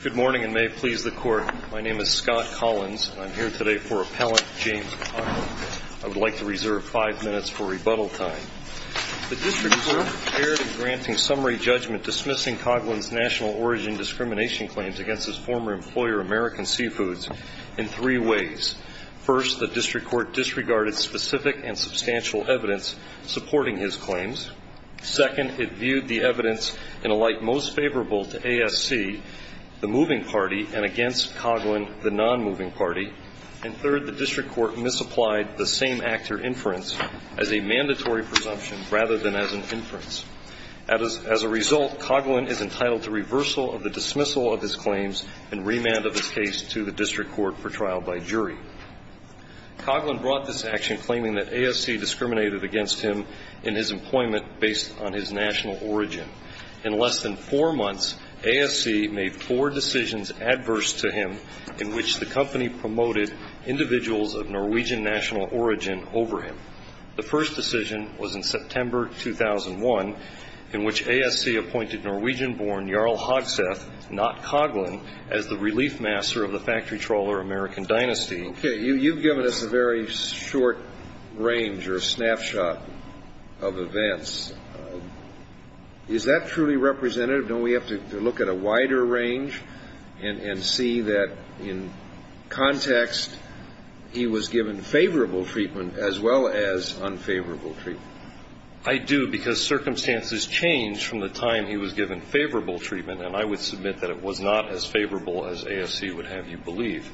Good morning, and may it please the Court, my name is Scott Collins, and I'm here today for Appellant James Coghlan. I would like to reserve five minutes for rebuttal time. The district court prepared in granting summary judgment dismissing Coghlan's national origin discrimination claims against his former employer, American Seafoods, in three ways. First, the district court disregarded specific and substantial evidence supporting his claims. Second, it viewed the evidence in a light most favorable to ASC, the moving party, and against Coghlan, the non-moving party. And third, the district court misapplied the same actor inference as a mandatory presumption rather than as an inference. As a result, Coghlan is entitled to reversal of the dismissal of his claims and remand of his case to the district court for trial by jury. Coghlan brought this action claiming that ASC discriminated against him in his employment based on his national origin. In less than four months, ASC made four decisions adverse to him in which the company promoted individuals of Norwegian national origin over him. The first decision was in September 2001 in which ASC appointed Norwegian-born Jarl Hagseth, not Coghlan, as the relief master of the factory trawler American dynasty. Okay, you've given us a very short range or snapshot of events. Is that truly representative? Don't we have to look at a wider range and see that in context, he was given favorable treatment as well as unfavorable treatment? I do, because circumstances change from the time he was given favorable treatment, and I would submit that it was not as favorable as ASC would have you believe.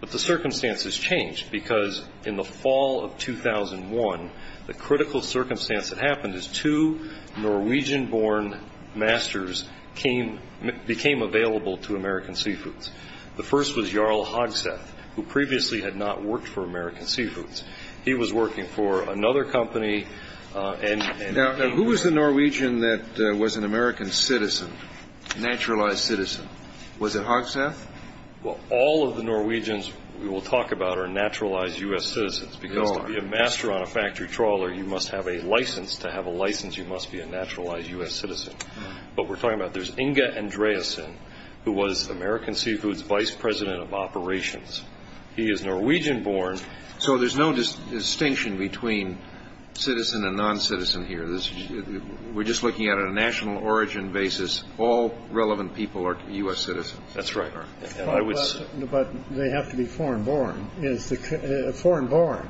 But the circumstances changed because in the fall of 2001, the critical circumstance that happened is two Norwegian-born masters became available to American Seafoods. The first was Jarl Hagseth, who previously had not worked for American Seafoods. He was working for another company. Now, who was the Norwegian that was an American citizen, naturalized citizen? Was it Hagseth? Well, all of the Norwegians we will talk about are naturalized U.S. citizens, because to be a master on a factory trawler, you must have a license. To have a license, you must be a naturalized U.S. citizen. But we're talking about there's Inge Andreasen, who was American Seafoods' vice president of operations. He is Norwegian-born. So there's no distinction between citizen and non-citizen here. We're just looking at it on a national origin basis. All relevant people are U.S. citizens. That's right. But they have to be foreign-born. Foreign-born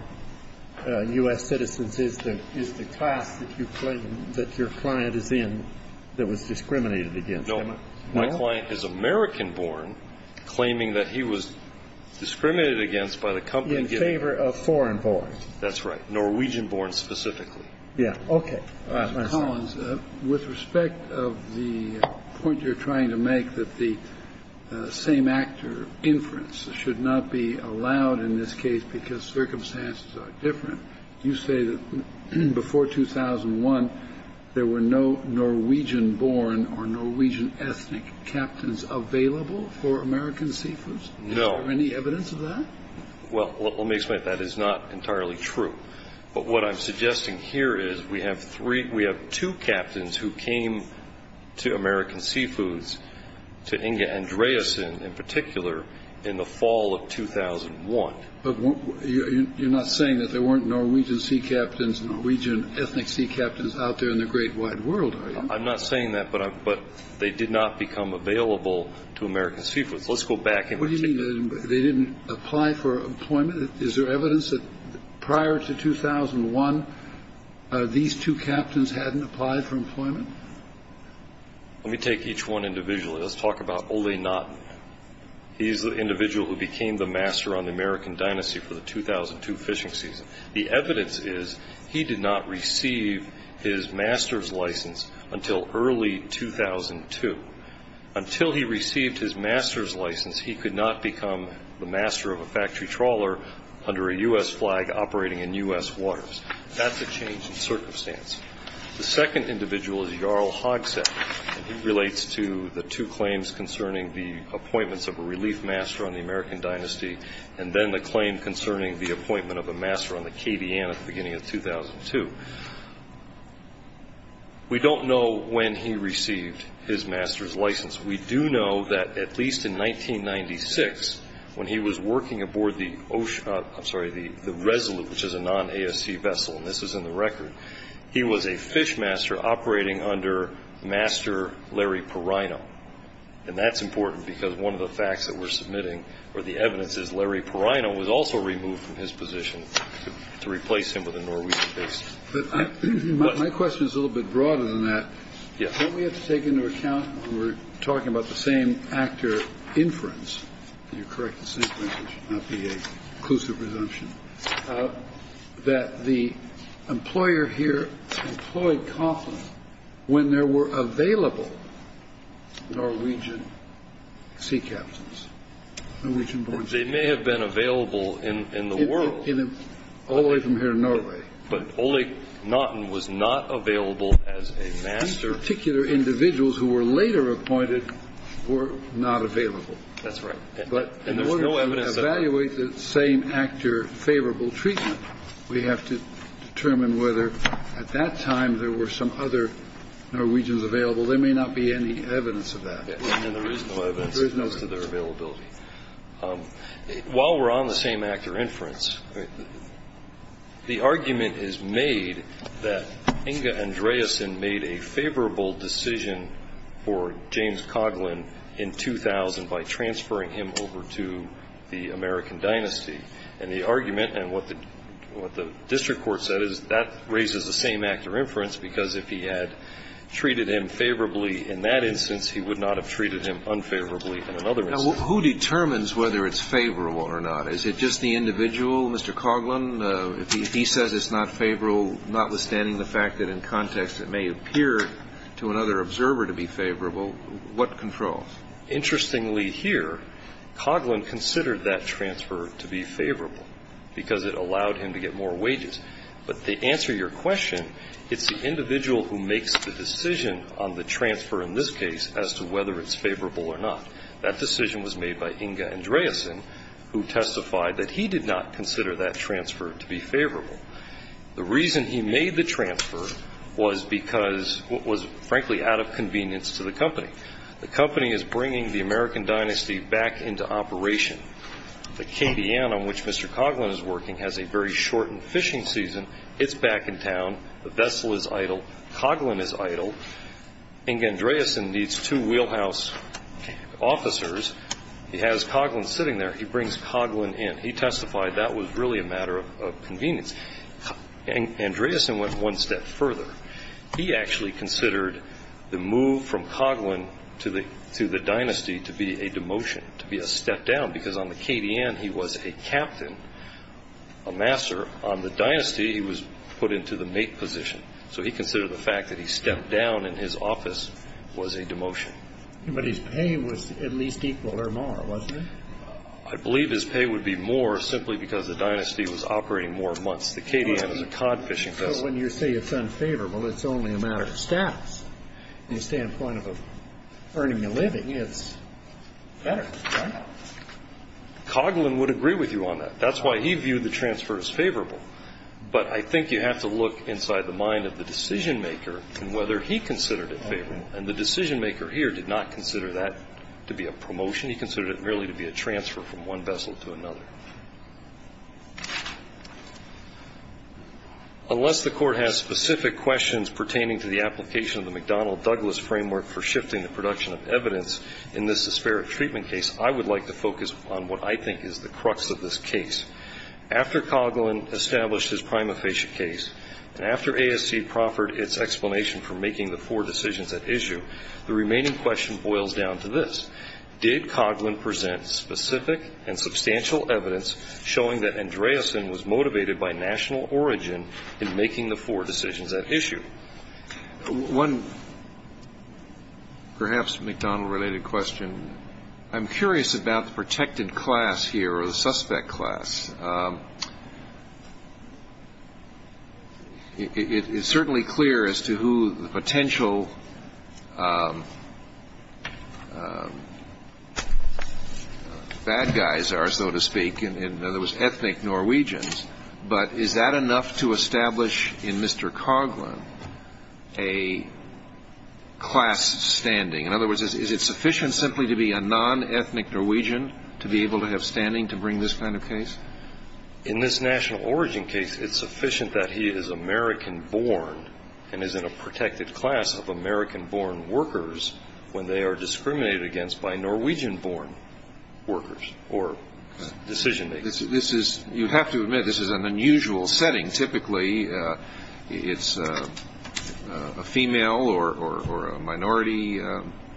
U.S. citizens is the class that you claim that your client is in that was discriminated against. No. My client is American-born, claiming that he was discriminated against by the company. In favor of foreign-born. That's right. Norwegian-born specifically. Yeah. Okay. Mr. Collins, with respect of the point you're trying to make that the same actor inference should not be allowed in this case because circumstances are different, you say that before 2001 there were no Norwegian-born or Norwegian-ethnic captains available for American Seafoods? No. Is there any evidence of that? Well, let me explain. That is not entirely true. But what I'm suggesting here is we have two captains who came to American Seafoods, to Inge Andreasen in particular, in the fall of 2001. But you're not saying that there weren't Norwegian sea captains and Norwegian-ethnic sea captains out there in the great wide world, are you? I'm not saying that, but they did not become available to American Seafoods. Let's go back. What do you mean they didn't apply for employment? Is there evidence that prior to 2001 these two captains hadn't applied for employment? Let me take each one individually. Let's talk about Ole Nott. He's the individual who became the master on the American dynasty for the 2002 fishing season. The evidence is he did not receive his master's license until early 2002. Until he received his master's license, he could not become the master of a factory trawler under a U.S. flag operating in U.S. waters. That's a change in circumstance. The second individual is Jarl Hogsad. He relates to the two claims concerning the appointments of a relief master on the American dynasty and then the claim concerning the appointment of a master on the Cadian at the beginning of 2002. We don't know when he received his master's license. We do know that at least in 1996, when he was working aboard the Resolute, which is a non-ASC vessel, and this is in the record, he was a fishmaster operating under Master Larry Perino. And that's important because one of the facts that we're submitting, or the evidence, is Larry Perino was also removed from his position to replace him with a Norwegian base. But my question is a little bit broader than that. Yes. Don't we have to take into account when we're talking about the same actor inference, and you're correct in saying that there should not be an inclusive presumption, that the employer here employed Kauffman when there were available Norwegian sea captains, Norwegian-born sea captains. They may have been available in the world. All the way from here to Norway. But Ole Knotten was not available as a master. These particular individuals who were later appointed were not available. That's right. But in order to evaluate the same actor favorable treatment, we have to determine whether at that time there were some other Norwegians available. There may not be any evidence of that. And there is no evidence to their availability. While we're on the same actor inference, The argument is made that Inge Andreasen made a favorable decision for James Coughlin in 2000 by transferring him over to the American dynasty. And the argument and what the district court said is that raises the same actor inference because if he had treated him favorably in that instance, he would not have treated him unfavorably in another instance. Now, who determines whether it's favorable or not? Is it just the individual, Mr. Coughlin? If he says it's not favorable, notwithstanding the fact that in context it may appear to another observer to be favorable, what controls? Interestingly here, Coughlin considered that transfer to be favorable because it allowed him to get more wages. But to answer your question, it's the individual who makes the decision on the transfer in this case as to whether it's favorable or not. That decision was made by Inge Andreasen, who testified that he did not consider that transfer to be favorable. The reason he made the transfer was because it was, frankly, out of convenience to the company. The company is bringing the American dynasty back into operation. The Cadian on which Mr. Coughlin is working has a very shortened fishing season. It's back in town. The vessel is idle. Coughlin is idle. Inge Andreasen needs two wheelhouse officers. He has Coughlin sitting there. He brings Coughlin in. He testified that was really a matter of convenience. And Andreasen went one step further. He actually considered the move from Coughlin to the dynasty to be a demotion, to be a step down, because on the Cadian he was a captain, a master. On the dynasty, he was put into the mate position. So he considered the fact that he stepped down in his office was a demotion. But his pay was at least equal or more, wasn't it? I believe his pay would be more simply because the dynasty was operating more months. The Cadian is a cod fishing vessel. But when you say it's unfavorable, it's only a matter of status. When you stand point of earning a living, it's better, right? Coughlin would agree with you on that. That's why he viewed the transfer as favorable. But I think you have to look inside the mind of the decision-maker and whether he considered it favorable. And the decision-maker here did not consider that to be a promotion. He considered it merely to be a transfer from one vessel to another. Unless the Court has specific questions pertaining to the application of the McDonnell-Douglas framework for shifting the production of evidence in this disparate treatment case, I would like to focus on what I think is the crux of this case. After Coughlin established his prima facie case, and after ASC proffered its explanation for making the four decisions at issue, the remaining question boils down to this. Did Coughlin present specific and substantial evidence showing that Andreasen was motivated by national origin in making the four decisions at issue? One perhaps McDonnell-related question. I'm curious about the protected class here or the suspect class. It's certainly clear as to who the potential bad guys are, so to speak, in other words, ethnic Norwegians. But is that enough to establish in Mr. Coughlin a class standing? In other words, is it sufficient simply to be a non-ethnic Norwegian to be able to have standing to bring this kind of case? In this national origin case, it's sufficient that he is American-born and is in a protected class of American-born workers when they are discriminated against by Norwegian-born workers or decision-makers. You have to admit, this is an unusual setting. Typically, it's a female or a minority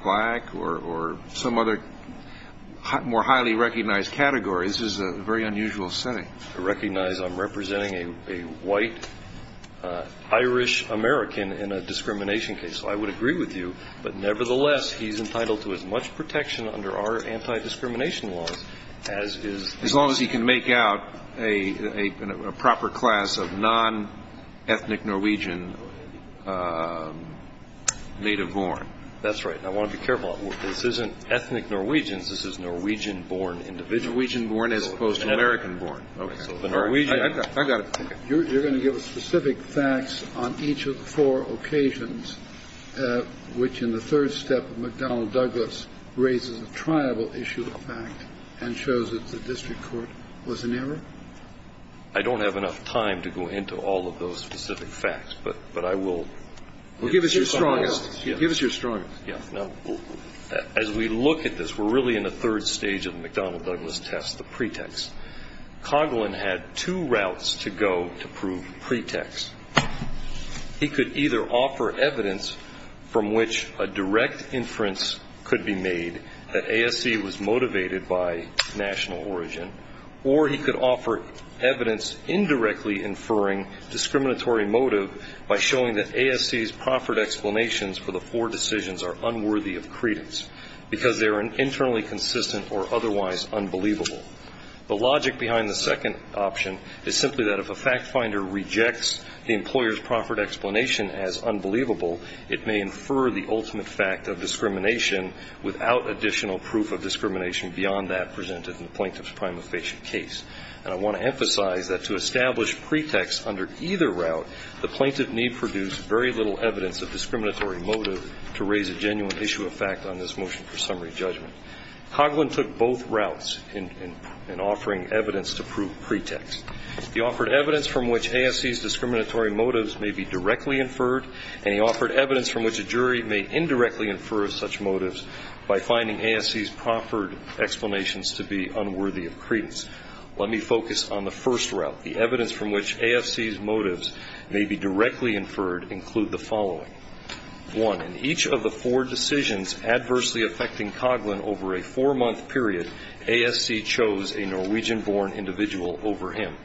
black or some other more highly recognized category. This is a very unusual setting. I recognize I'm representing a white Irish-American in a discrimination case, so I would agree with you. But nevertheless, he's entitled to as much protection under our anti-discrimination laws as is the case. As long as he can make out a proper class of non-ethnic Norwegian native-born. That's right. I want to be careful. This isn't ethnic Norwegians. This is Norwegian-born individuals. Norwegian-born as opposed to American-born. Okay. I got it. You're going to give us specific facts on each of the four occasions, which in the third step of McDonnell-Douglas raises a triable issue of fact and shows that the district court was in error? I don't have enough time to go into all of those specific facts, but I will. Well, give us your strongest. Give us your strongest. Yeah. Now, as we look at this, we're really in the third stage of the McDonnell-Douglas test, the pretext. Coghlan had two routes to go to prove pretext. He could either offer evidence from which a direct inference could be made that ASC was motivated by national origin, or he could offer evidence indirectly inferring discriminatory motive by showing that ASC's proffered explanations for the four decisions are unworthy of credence because they are internally consistent or otherwise unbelievable. The logic behind the second option is simply that if a fact finder rejects the employer's proffered explanation as unbelievable, it may infer the ultimate fact of discrimination without additional proof of discrimination beyond that presented in the plaintiff's prima facie case. And I want to emphasize that to establish pretext under either route, the plaintiff need produce very little evidence of discriminatory motive to raise a genuine issue of fact on this motion for summary judgment. Coghlan took both routes in offering evidence to prove pretext. He offered evidence from which ASC's discriminatory motives may be directly inferred, and he offered evidence from which a jury may indirectly infer such motives by finding ASC's proffered explanations to be unworthy of credence. Let me focus on the first route. The evidence from which ASC's motives may be directly inferred include the following. One, in each of the four decisions adversely affecting Coghlan over a four-month period, ASC chose a Norwegian-born individual over him.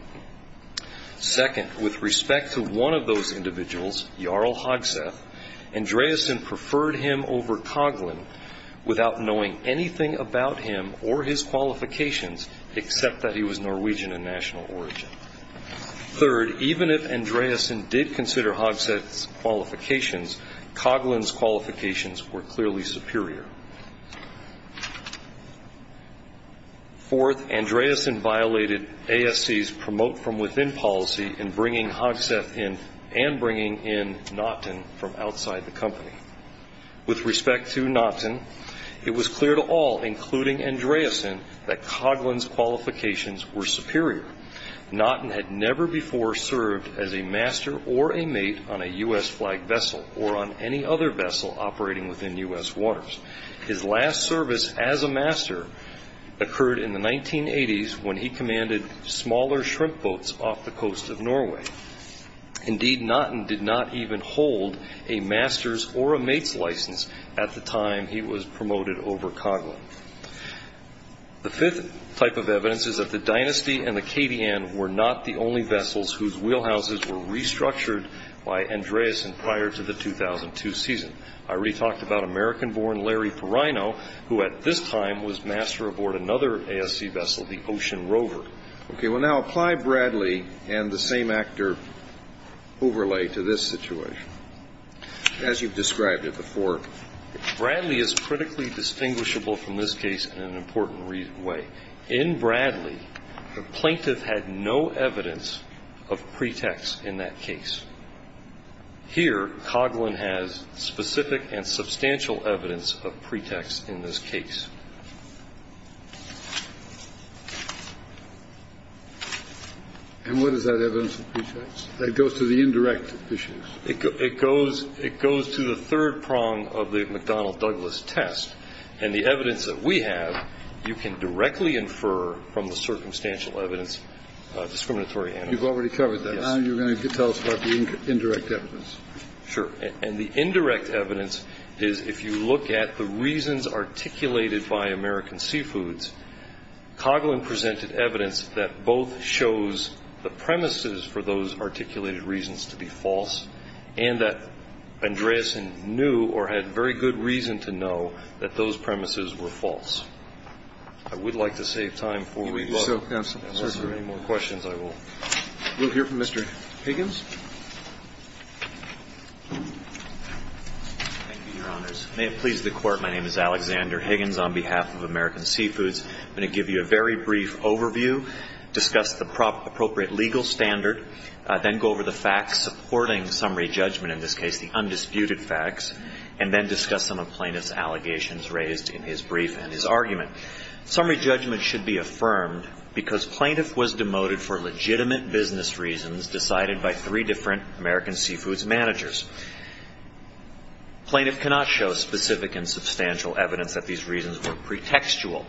Second, with respect to one of those individuals, Jarl Hogseth, Andreasen preferred him over Coghlan without knowing anything about him or his qualifications, except that he was Norwegian of national origin. Third, even if Andreasen did consider Hogseth's qualifications, Coghlan's qualifications were clearly superior. Fourth, Andreasen violated ASC's promote from within policy in bringing Hogseth in and bringing in Naughton from outside the company. With respect to Naughton, it was clear to all, including Andreasen, that Coghlan's qualifications were superior. Naughton had never before served as a master or a mate on a U.S.-flagged vessel or on any other vessel operating within U.S. waters. His last service as a master occurred in the 1980s when he commanded smaller shrimp boats off the coast of Norway. Indeed, Naughton did not even hold a master's or a mate's license at the time he was promoted over Coghlan. The fifth type of evidence is that the Dynasty and the KDN were not the only vessels whose wheelhouses were restructured by Andreasen prior to the 2002 season. I already talked about American-born Larry Ferino, who at this time was master aboard another ASC vessel, the Ocean Rover. Okay, well, now apply Bradley and the same actor overlay to this situation. As you've described it before, Bradley is critically distinguishable from this case in an important way. In Bradley, the plaintiff had no evidence of pretext in that case. Here, Coghlan has specific and substantial evidence of pretext in this case. That goes to the indirect issues. It goes to the third prong of the McDonnell-Douglas test. And the evidence that we have, you can directly infer from the circumstantial evidence discriminatory handling. You've already covered that. Now you're going to tell us about the indirect evidence. Sure. And the indirect evidence is if you look at the reasons articulated by American Seafoods, Coghlan presented evidence that both shows the premises for those articulated reasons to be false and that Andreasen knew or had very good reason to know that those premises were false. I would like to save time before we go. Absolutely. Unless there are any more questions, I will. We'll hear from Mr. Higgins. Thank you, Your Honors. May it please the Court, my name is Alexander Higgins on behalf of American Seafoods. I'm going to give you a very brief overview, discuss the appropriate legal standard, then go over the facts supporting summary judgment in this case, the undisputed facts, and then discuss some of the plaintiff's allegations raised in his brief and his argument. Summary judgment should be affirmed because plaintiff was demoted for legitimate business reasons Plaintiff cannot show specific and substantial evidence that these reasons were pretextual.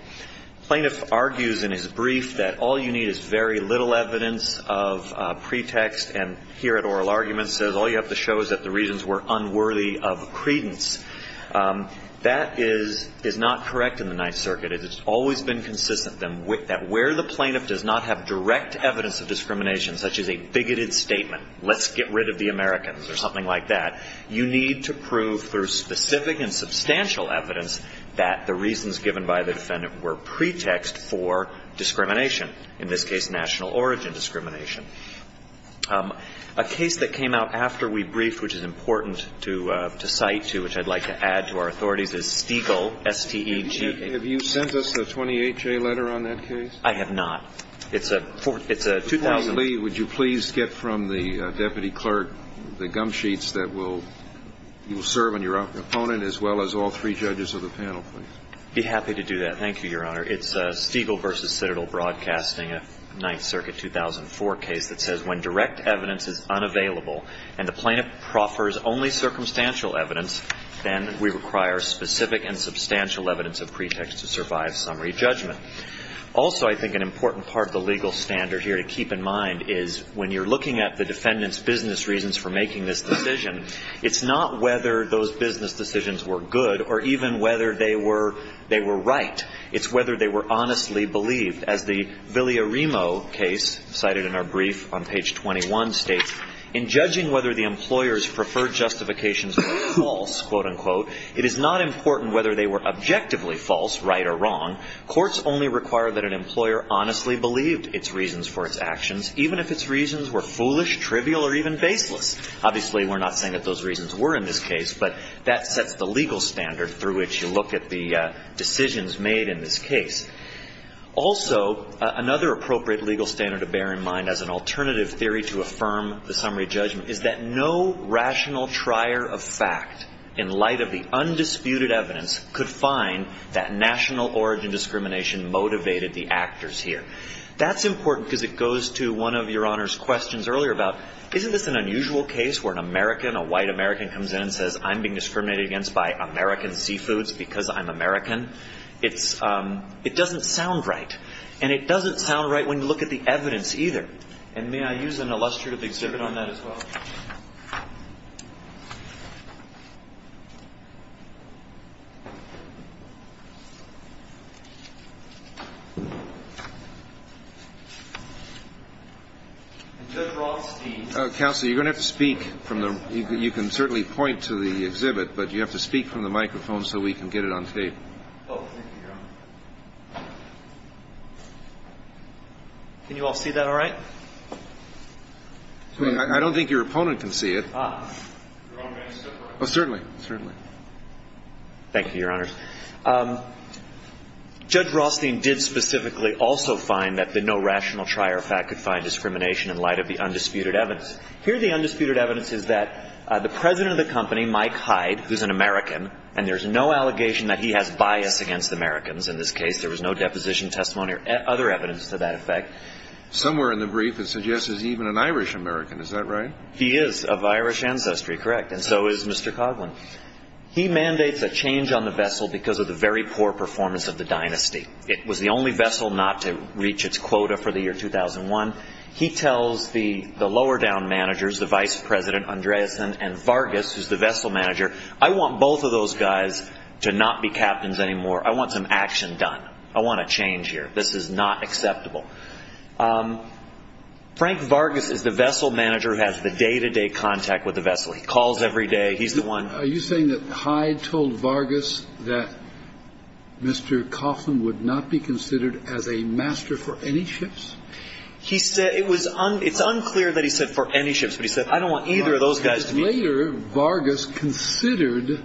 Plaintiff argues in his brief that all you need is very little evidence of pretext and here at oral arguments says all you have to show is that the reasons were unworthy of credence. That is not correct in the Ninth Circuit. It has always been consistent that where the plaintiff does not have direct evidence of discrimination, such as a bigoted statement, let's get rid of the Americans or something like that, you need to prove through specific and substantial evidence that the reasons given by the defendant were pretext for discrimination, in this case national origin discrimination. A case that came out after we briefed, which is important to cite too, which I'd like to add to our authorities, is Stiegel, S-T-E-G-I-E-L. Have you sent us a 28-J letter on that case? I have not. It's a 2,000- Now, Lee, would you please get from the Deputy Clerk the gum sheets that you will serve on your opponent as well as all three judges of the panel, please. I'd be happy to do that. Thank you, Your Honor. It's Stiegel v. Citadel Broadcasting, a Ninth Circuit 2004 case that says when direct evidence is unavailable and the plaintiff proffers only circumstantial evidence, then we require specific and substantial evidence of pretext to survive summary judgment. Also, I think an important part of the legal standard here to keep in mind is when you're looking at the defendant's business reasons for making this decision, it's not whether those business decisions were good or even whether they were right. It's whether they were honestly believed. As the Villarimo case cited in our brief on page 21 states, in judging whether the employer's preferred justifications were false, quote-unquote, it is not important whether they were objectively false, right or wrong. Courts only require that an employer honestly believed its reasons for its actions, even if its reasons were foolish, trivial or even baseless. Obviously, we're not saying that those reasons were in this case, but that sets the legal standard through which you look at the decisions made in this case. Also, another appropriate legal standard to bear in mind as an alternative theory to affirm the summary judgment is that no rational trier of fact in light of the undisputed evidence could find that national origin discrimination motivated the actors here. That's important because it goes to one of Your Honor's questions earlier about, isn't this an unusual case where an American, a white American comes in and says, I'm being discriminated against by American seafoods because I'm American? It doesn't sound right. And it doesn't sound right when you look at the evidence either. And may I use an illustrative exhibit on that as well? Judge Rothstein. Counsel, you're going to have to speak from the – you can certainly point to the exhibit, but you have to speak from the microphone so we can get it on tape. Oh, thank you, Your Honor. Can you all see that all right? I don't think your opponent can see it. Your own man can see it. Oh, certainly. Certainly. Thank you, Your Honor. Judge Rothstein did specifically also find that the no rational trier of fact could find discrimination in light of the undisputed evidence. Here the undisputed evidence is that the president of the company, Mike Hyde, who's an American, and there's no allegation that he has bias against Americans in this case. There was no deposition testimony or other evidence to that effect. Somewhere in the brief it suggests he's even an Irish-American. Is that right? He is of Irish ancestry, correct, and so is Mr. Coughlin. He mandates a change on the vessel because of the very poor performance of the dynasty. It was the only vessel not to reach its quota for the year 2001. He tells the lower-down managers, the vice president, Andreasen, and Vargas, who's the vessel manager, I want both of those guys to not be captains anymore. I want some action done. I want a change here. This is not acceptable. Frank Vargas is the vessel manager who has the day-to-day contact with the vessel. He calls every day. He's the one. Are you saying that Hyde told Vargas that Mr. Coughlin would not be considered as a master for any ships? It's unclear that he said for any ships, but he said I don't want either of those guys to be. Later, Vargas considered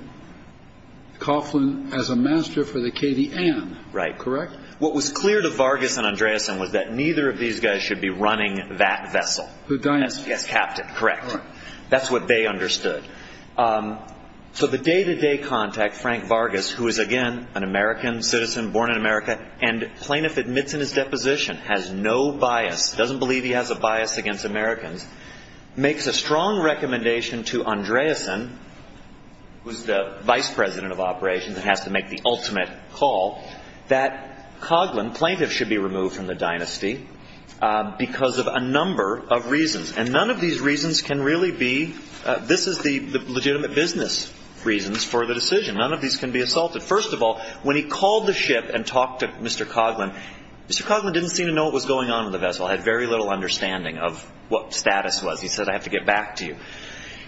Coughlin as a master for the Cadi-Anne, correct? What was clear to Vargas and Andreasen was that neither of these guys should be running that vessel. The dynasty. As captain, correct. That's what they understood. So the day-to-day contact, Frank Vargas, who is, again, an American citizen, born in America, and plaintiff admits in his deposition has no bias, doesn't believe he has a bias against Americans, makes a strong recommendation to Andreasen, who is the vice president of operations and has to make the ultimate call, that Coughlin, plaintiff, should be removed from the dynasty because of a number of reasons, and none of these reasons can really be. This is the legitimate business reasons for the decision. None of these can be assaulted. First of all, when he called the ship and talked to Mr. Coughlin, Mr. Coughlin didn't seem to know what was going on with the vessel. He had very little understanding of what status was. He said, I have to get back to you.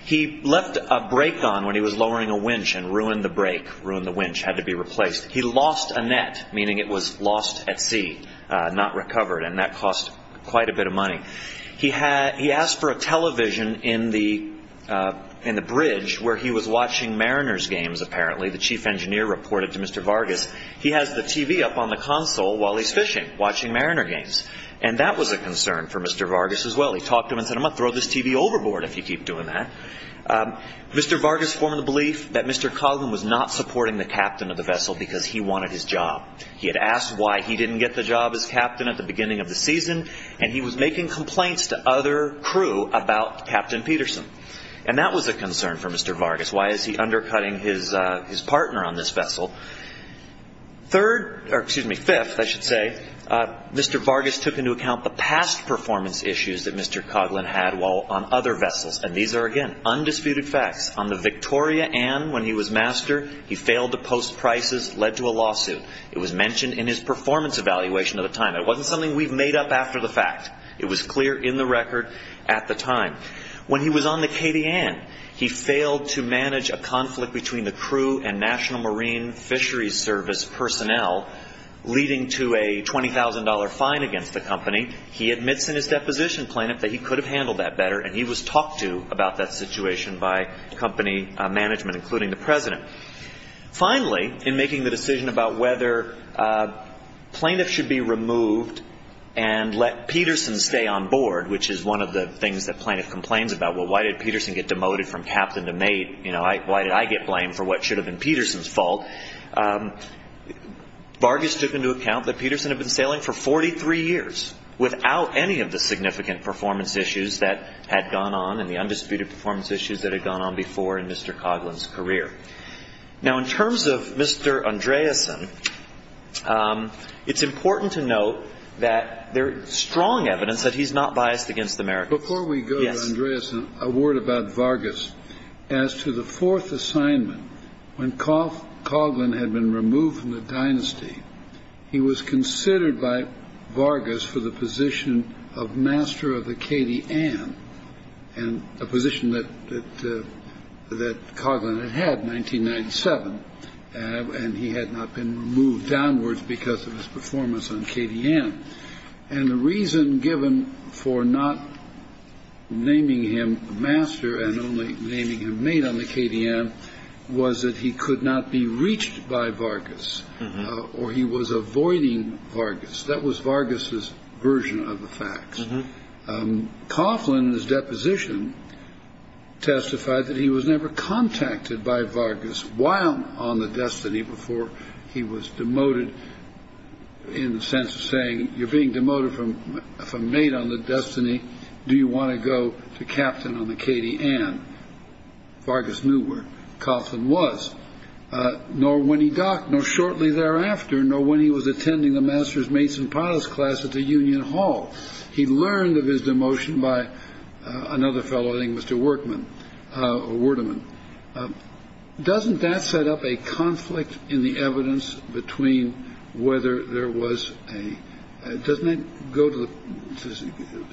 He left a brake on when he was lowering a winch and ruined the brake, ruined the winch, had to be replaced. He lost a net, meaning it was lost at sea, not recovered, and that cost quite a bit of money. He asked for a television in the bridge where he was watching Mariners games, apparently. The chief engineer reported to Mr. Vargas, he has the TV up on the console while he's fishing, watching Mariner games, and that was a concern for Mr. Vargas as well. He talked to him and said, I'm going to throw this TV overboard if you keep doing that. Mr. Vargas formed the belief that Mr. Coughlin was not supporting the captain of the vessel because he wanted his job. He had asked why he didn't get the job as captain at the beginning of the season, and he was making complaints to other crew about Captain Peterson, and that was a concern for Mr. Vargas. Why is he undercutting his partner on this vessel? Fifth, I should say, Mr. Vargas took into account the past performance issues that Mr. Coughlin had while on other vessels, and these are, again, undisputed facts. On the Victoria Ann, when he was master, he failed to post prices, led to a lawsuit. It was mentioned in his performance evaluation at the time. It wasn't something we've made up after the fact. It was clear in the record at the time. When he was on the Katy Ann, he failed to manage a conflict between the crew and National Marine Fisheries Service personnel, leading to a $20,000 fine against the company. He admits in his deposition, plaintiff, that he could have handled that better, and he was talked to about that situation by company management, including the president. Finally, in making the decision about whether plaintiffs should be removed and let Peterson stay on board, which is one of the things that plaintiff complains about, well, why did Peterson get demoted from captain to mate? Why did I get blamed for what should have been Peterson's fault? Vargas took into account that Peterson had been sailing for 43 years, without any of the significant performance issues that had gone on and the undisputed performance issues that had gone on before in Mr. Coughlin's career. Now, in terms of Mr. Andreessen, it's important to note that there is strong evidence that he's not biased against the Americans. Before we go to Andreessen, a word about Vargas. As to the fourth assignment, when Coughlin had been removed from the dynasty, he was considered by Vargas for the position of master of the Katy Ann, a position that Coughlin had had in 1997, and he had not been moved downwards because of his performance on Katy Ann. And the reason given for not naming him master and only naming him mate on the Katy Ann was that he could not be reached by Vargas or he was avoiding Vargas. That was Vargas's version of the facts. Coughlin, in his deposition, testified that he was never contacted by Vargas while on the destiny before he was demoted in the sense of saying, you're being demoted from mate on the destiny. Do you want to go to captain on the Katy Ann? Vargas knew where Coughlin was, nor when he docked, nor shortly thereafter, nor when he was attending the master's mason pilots class at the Union Hall. He learned of his demotion by another fellow named Mr. Workman or word of him. Doesn't that set up a conflict in the evidence between whether there was a. Doesn't it go to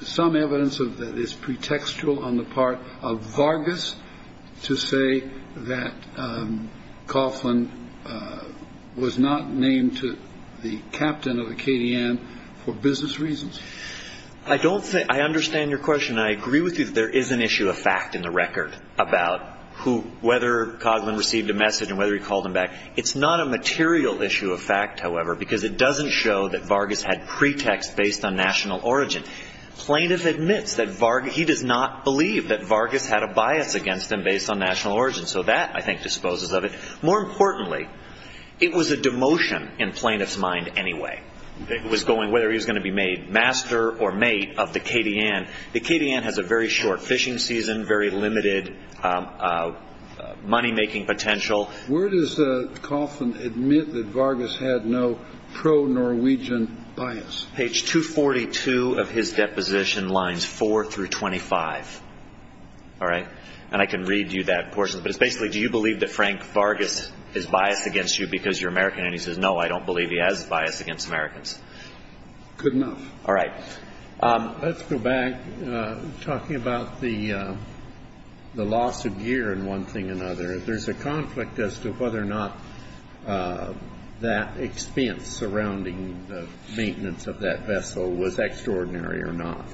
some evidence of this pretextual on the part of Vargas to say that Coughlin was not named to the captain of the Katy Ann. For business reasons, I don't think I understand your question. I agree with you that there is an issue of fact in the record about who whether Coughlin received a message and whether he called him back. It's not a material issue of fact, however, because it doesn't show that Vargas had pretext based on national origin. Plaintiff admits that he does not believe that Vargas had a bias against him based on national origin. So that, I think, disposes of it. More importantly, it was a demotion in plaintiff's mind anyway. It was going whether he was going to be made master or mate of the Katy Ann. The Katy Ann has a very short fishing season, very limited money making potential. Where does Coughlin admit that Vargas had no pro Norwegian bias? Page 242 of his deposition lines four through twenty five. All right. And I can read you that portion. But it's basically do you believe that Frank Vargas is biased against you because you're American? And he says, no, I don't believe he has a bias against Americans. Good enough. All right. Let's go back. Talking about the loss of gear in one thing or another. There's a conflict as to whether or not that expense surrounding the maintenance of that vessel was extraordinary or not.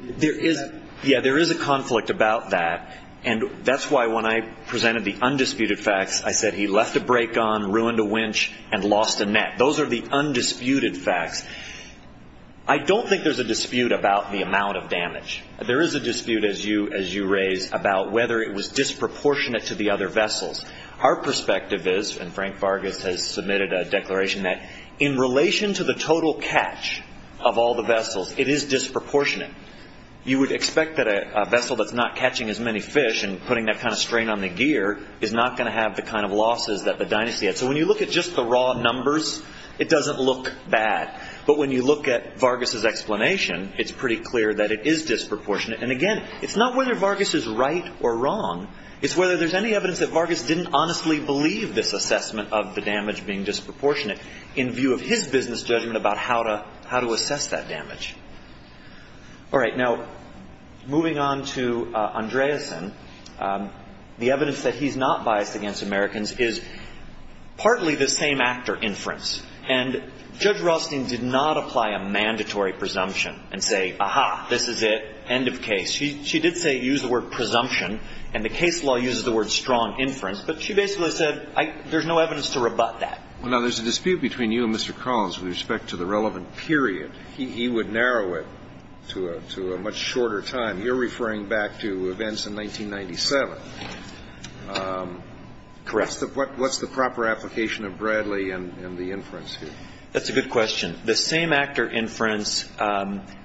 There is. Yeah, there is a conflict about that. And that's why when I presented the undisputed facts, I said he left a brake on, ruined a winch and lost a net. Those are the undisputed facts. I don't think there's a dispute about the amount of damage. There is a dispute, as you raise, about whether it was disproportionate to the other vessels. Our perspective is, and Frank Vargas has submitted a declaration, that in relation to the total catch of all the vessels, it is disproportionate. You would expect that a vessel that's not catching as many fish and putting that kind of strain on the gear is not going to have the kind of losses that the dynasty had. So when you look at just the raw numbers, it doesn't look bad. But when you look at Vargas's explanation, it's pretty clear that it is disproportionate. And, again, it's not whether Vargas is right or wrong. It's whether there's any evidence that Vargas didn't honestly believe this assessment of the damage being disproportionate in view of his business judgment about how to assess that damage. All right. Now, moving on to Andreessen, the evidence that he's not biased against Americans is partly the same actor inference. And Judge Ralstein did not apply a mandatory presumption and say, aha, this is it, end of case. She did say use the word presumption, and the case law uses the word strong inference. But she basically said there's no evidence to rebut that. Well, now, there's a dispute between you and Mr. Collins with respect to the relevant period. He would narrow it to a much shorter time. You're referring back to events in 1997. Correct. What's the proper application of Bradley and the inference here? That's a good question. The same actor inference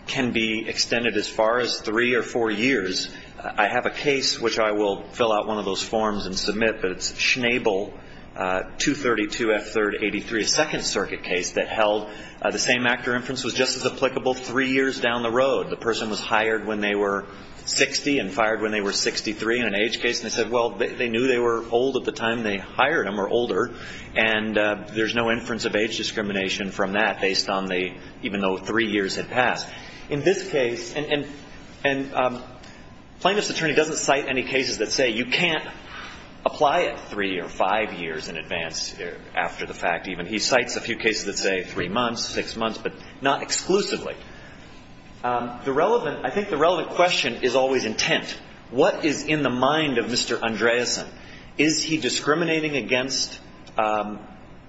can be extended as far as three or four years. I have a case which I will fill out one of those forms and submit, but it's Schnabel 232F383, a Second Circuit case that held the same actor inference was just as applicable three years down the road. The person was hired when they were 60 and fired when they were 63 in an age case. And they said, well, they knew they were old at the time they hired them or older. And there's no inference of age discrimination from that based on the, even though three years had passed. In this case, and plaintiff's attorney doesn't cite any cases that say you can't apply it three or five years in advance after the fact. Even he cites a few cases that say three months, six months, but not exclusively. The relevant, I think the relevant question is always intent. What is in the mind of Mr. Andreasen? Is he discriminating against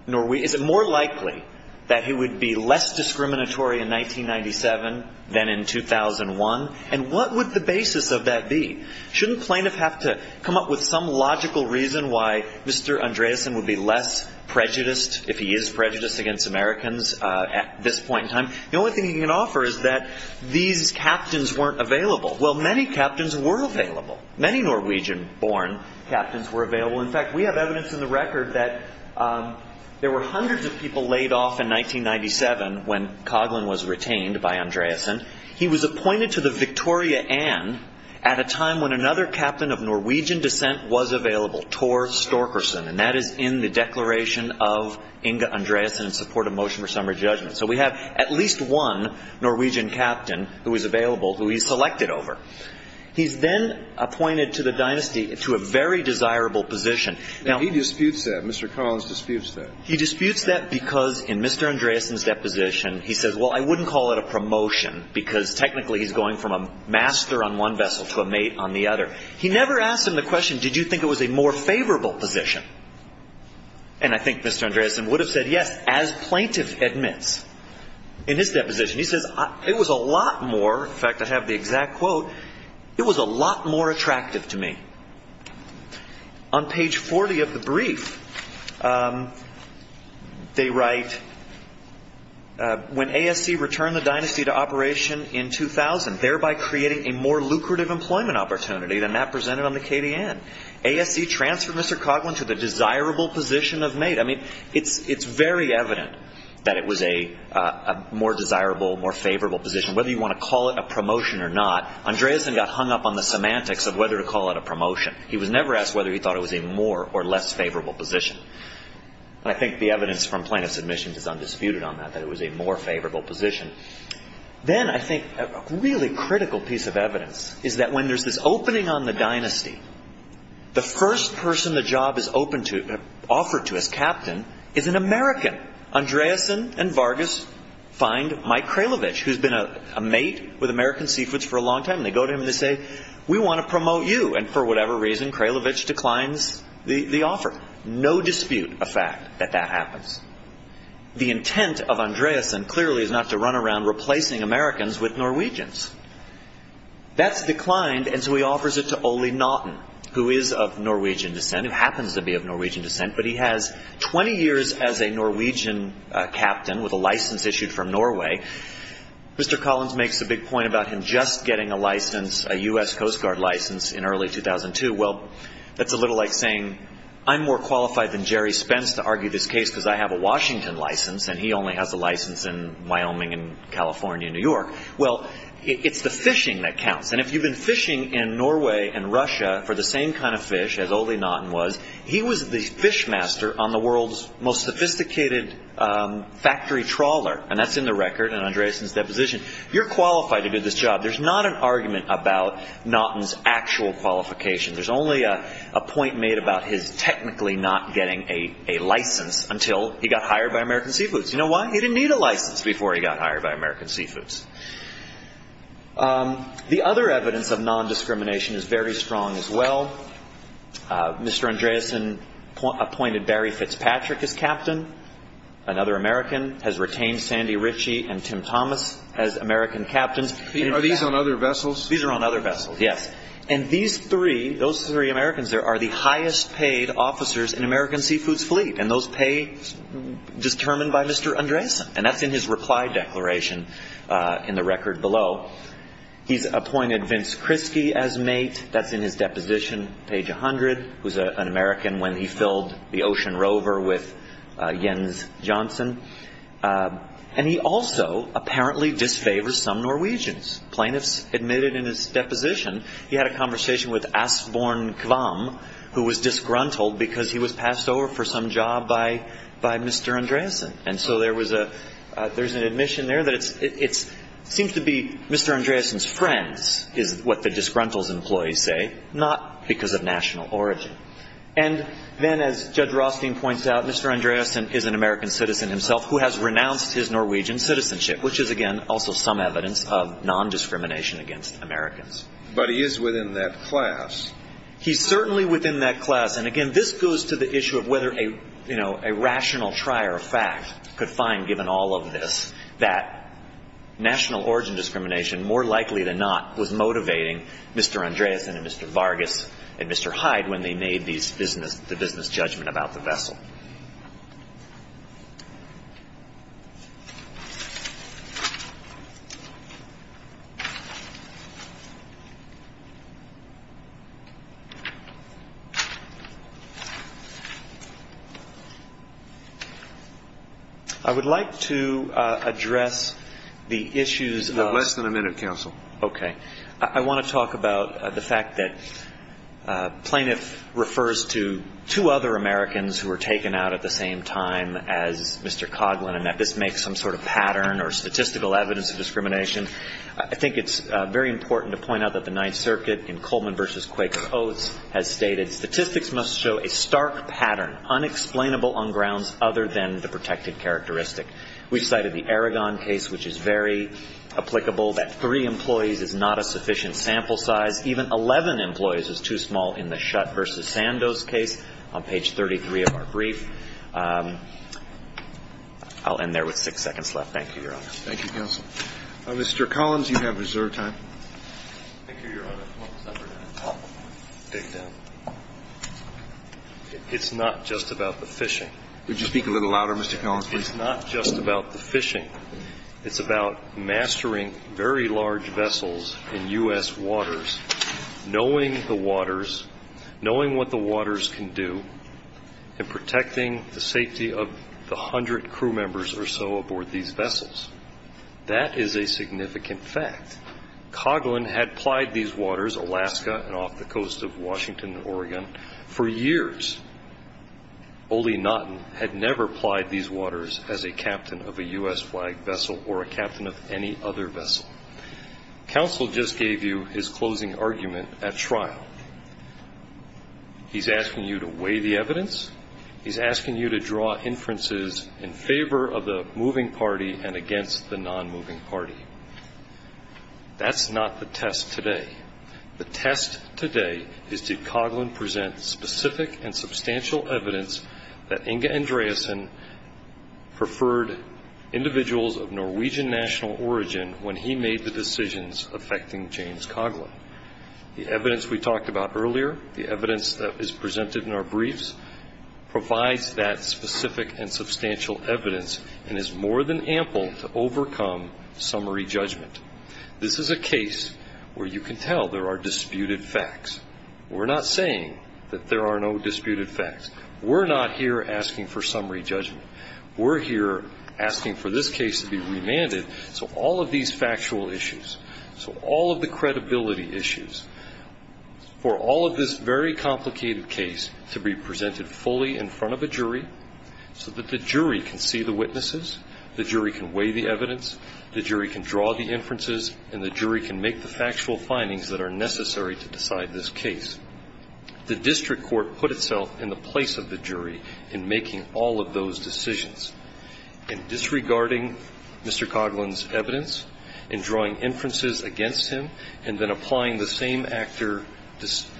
Norway? Is it more likely that he would be less discriminatory in 1997 than in 2001? And what would the basis of that be? Shouldn't plaintiff have to come up with some logical reason why Mr. Andreasen would be less prejudiced if he is prejudiced against Americans at this point in time? The only thing he can offer is that these captains weren't available. Well, many captains were available. Many Norwegian-born captains were available. In fact, we have evidence in the record that there were hundreds of people laid off in 1997 when Coughlin was retained by Andreasen. He was appointed to the Victoria Anne at a time when another captain of Norwegian descent was available, Tor Storkerson. And that is in the declaration of Inge Andreasen in support of motion for summary judgment. So we have at least one Norwegian captain who is available who he's selected over. He's then appointed to the dynasty to a very desirable position. Now, he disputes that. Mr. Collins disputes that. He disputes that because in Mr. Andreasen's deposition, he says, well, I wouldn't call it a promotion because technically he's going from a master on one vessel to a mate on the other. He never asked him the question, did you think it was a more favorable position? And I think Mr. Andreasen would have said yes, as plaintiff admits. In his deposition, he says, it was a lot more. In fact, I have the exact quote. It was a lot more attractive to me. On page 40 of the brief, they write, when ASC returned the dynasty to operation in 2000, thereby creating a more lucrative employment opportunity than that presented on the KDN. ASC transferred Mr. Coughlin to the desirable position of mate. I mean, it's very evident that it was a more desirable, more favorable position. Whether you want to call it a promotion or not, Andreasen got hung up on the semantics of whether to call it a promotion. He was never asked whether he thought it was a more or less favorable position. And I think the evidence from plaintiff's admissions is undisputed on that, that it was a more favorable position. Then I think a really critical piece of evidence is that when there's this opening on the dynasty, the first person the job is offered to as captain is an American. Andreasen and Vargas find Mike Kralovic, who's been a mate with American Seafoods for a long time. And they go to him and they say, we want to promote you. And for whatever reason, Kralovic declines the offer. The intent of Andreasen clearly is not to run around replacing Americans with Norwegians. That's declined. And so he offers it to Ole Naughton, who is of Norwegian descent, who happens to be of Norwegian descent. But he has 20 years as a Norwegian captain with a license issued from Norway. Mr. Collins makes a big point about him just getting a license, a U.S. Coast Guard license in early 2002. Well, that's a little like saying I'm more qualified than Jerry Spence to argue this case because I have a Washington license. And he only has a license in Wyoming and California and New York. Well, it's the fishing that counts. And if you've been fishing in Norway and Russia for the same kind of fish as Ole Naughton was, he was the fishmaster on the world's most sophisticated factory trawler. And that's in the record in Andreasen's deposition. You're qualified to do this job. There's not an argument about Naughton's actual qualification. There's only a point made about his technically not getting a license until he got hired by American Seafoods. You know why? He didn't need a license before he got hired by American Seafoods. The other evidence of nondiscrimination is very strong as well. Mr. Andreasen appointed Barry Fitzpatrick as captain, another American, has retained Sandy Ritchie and Tim Thomas as American captains. Are these on other vessels? These are on other vessels, yes. And these three, those three Americans there, are the highest paid officers in American Seafoods' fleet, and those pay determined by Mr. Andreasen. And that's in his reply declaration in the record below. He's appointed Vince Krinsky as mate. That's in his deposition, page 100. He was an American when he filled the Ocean Rover with Jens Jansson. And he also apparently disfavors some Norwegians. Plaintiffs admitted in his deposition he had a conversation with Asbjorn Kvam, who was disgruntled because he was passed over for some job by Mr. Andreasen. And so there was a there's an admission there that it seems to be Mr. Andreasen's friends is what the disgruntles employees say, not because of national origin. And then as Judge Rothstein points out, Mr. Andreasen is an American citizen himself who has renounced his Norwegian citizenship, which is, again, also some evidence of non-discrimination against Americans. But he is within that class. He's certainly within that class. And, again, this goes to the issue of whether a rational trier of fact could find, given all of this, that national origin discrimination, more likely than not, was motivating Mr. Andreasen and Mr. Vargas and Mr. Hyde when they made the business judgment about the vessel. I would like to address the issues of less than a minute. Counsel. OK. I want to talk about the fact that plaintiff refers to two other Americans who were taken out at the same time as Mr. Coughlin, and that this makes some sort of pattern or statistical evidence of discrimination. I think it's very important to point out that the Ninth Circuit in Coleman v. Quaker Oaths has stated, statistics must show a stark pattern unexplainable on grounds other than the protected characteristic. We've cited the Aragon case, which is very applicable, that three employees is not a sufficient sample size. Even 11 employees is too small in the Shutt v. Sandoz case on page 33 of our brief. I'll end there with six seconds left. Thank you, Your Honor. Thank you, Counsel. Mr. Collins, you have reserved time. Thank you, Your Honor. It's not just about the fishing. Would you speak a little louder, Mr. Collins, please? It's not just about the fishing. It's about mastering very large vessels in U.S. waters, knowing the waters, knowing what the waters can do, and protecting the safety of the hundred crew members or so aboard these vessels. That is a significant fact. Coghlan had plied these waters, Alaska and off the coast of Washington and Oregon, for years. Ole Nottin had never plied these waters as a captain of a U.S. flag vessel or a captain of any other vessel. Counsel just gave you his closing argument at trial. He's asking you to weigh the evidence. He's asking you to draw inferences in favor of the moving party and against the non-moving party. That's not the test today. The test today is did Coghlan present specific and substantial evidence that Inge Andreasen preferred individuals of Norwegian national origin when he made the decisions affecting James Coghlan? The evidence we talked about earlier, the evidence that is presented in our briefs, provides that specific and substantial evidence and is more than ample to overcome summary judgment. This is a case where you can tell there are disputed facts. We're not saying that there are no disputed facts. We're not here asking for summary judgment. We're here asking for this case to be remanded. So all of these factual issues, so all of the credibility issues, for all of this very complicated case to be presented fully in front of a jury so that the jury can see the witnesses, the jury can weigh the evidence, the jury can draw the inferences, and the jury can make the factual findings that are necessary to decide this case. The district court put itself in the place of the jury in making all of those decisions. In disregarding Mr. Coghlan's evidence, in drawing inferences against him, and then applying the same actor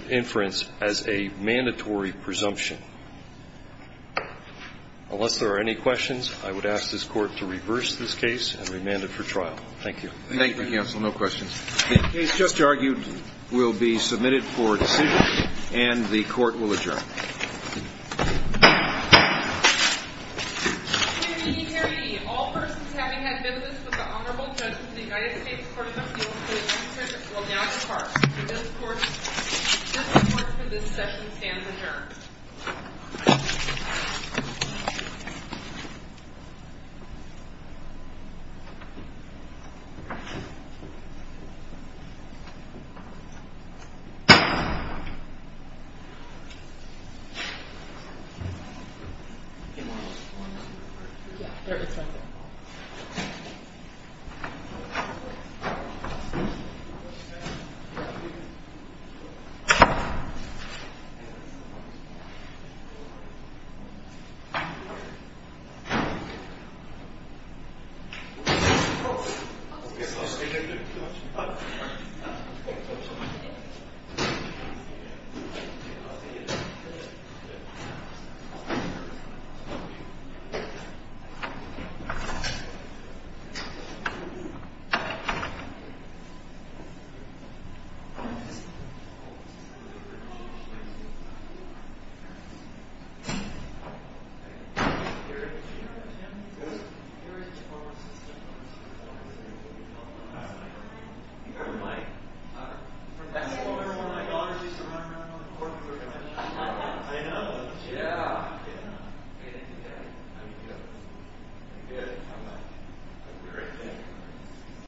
inference as a mandatory presumption. Unless there are any questions, I would ask this Court to reverse this case and remand it for trial. Thank you. Thank you, counsel. No questions. The case just argued will be submitted for decision, and the Court will adjourn. Hear, ye, hear, ye. All persons having had business with the Honorable Judge of the United States Court of Appeals, please return to your seats. We will now depart. The district court for this session stands adjourned. Thank you. I know. Yeah. Yeah. I'm good. I'm good. I'm a great man.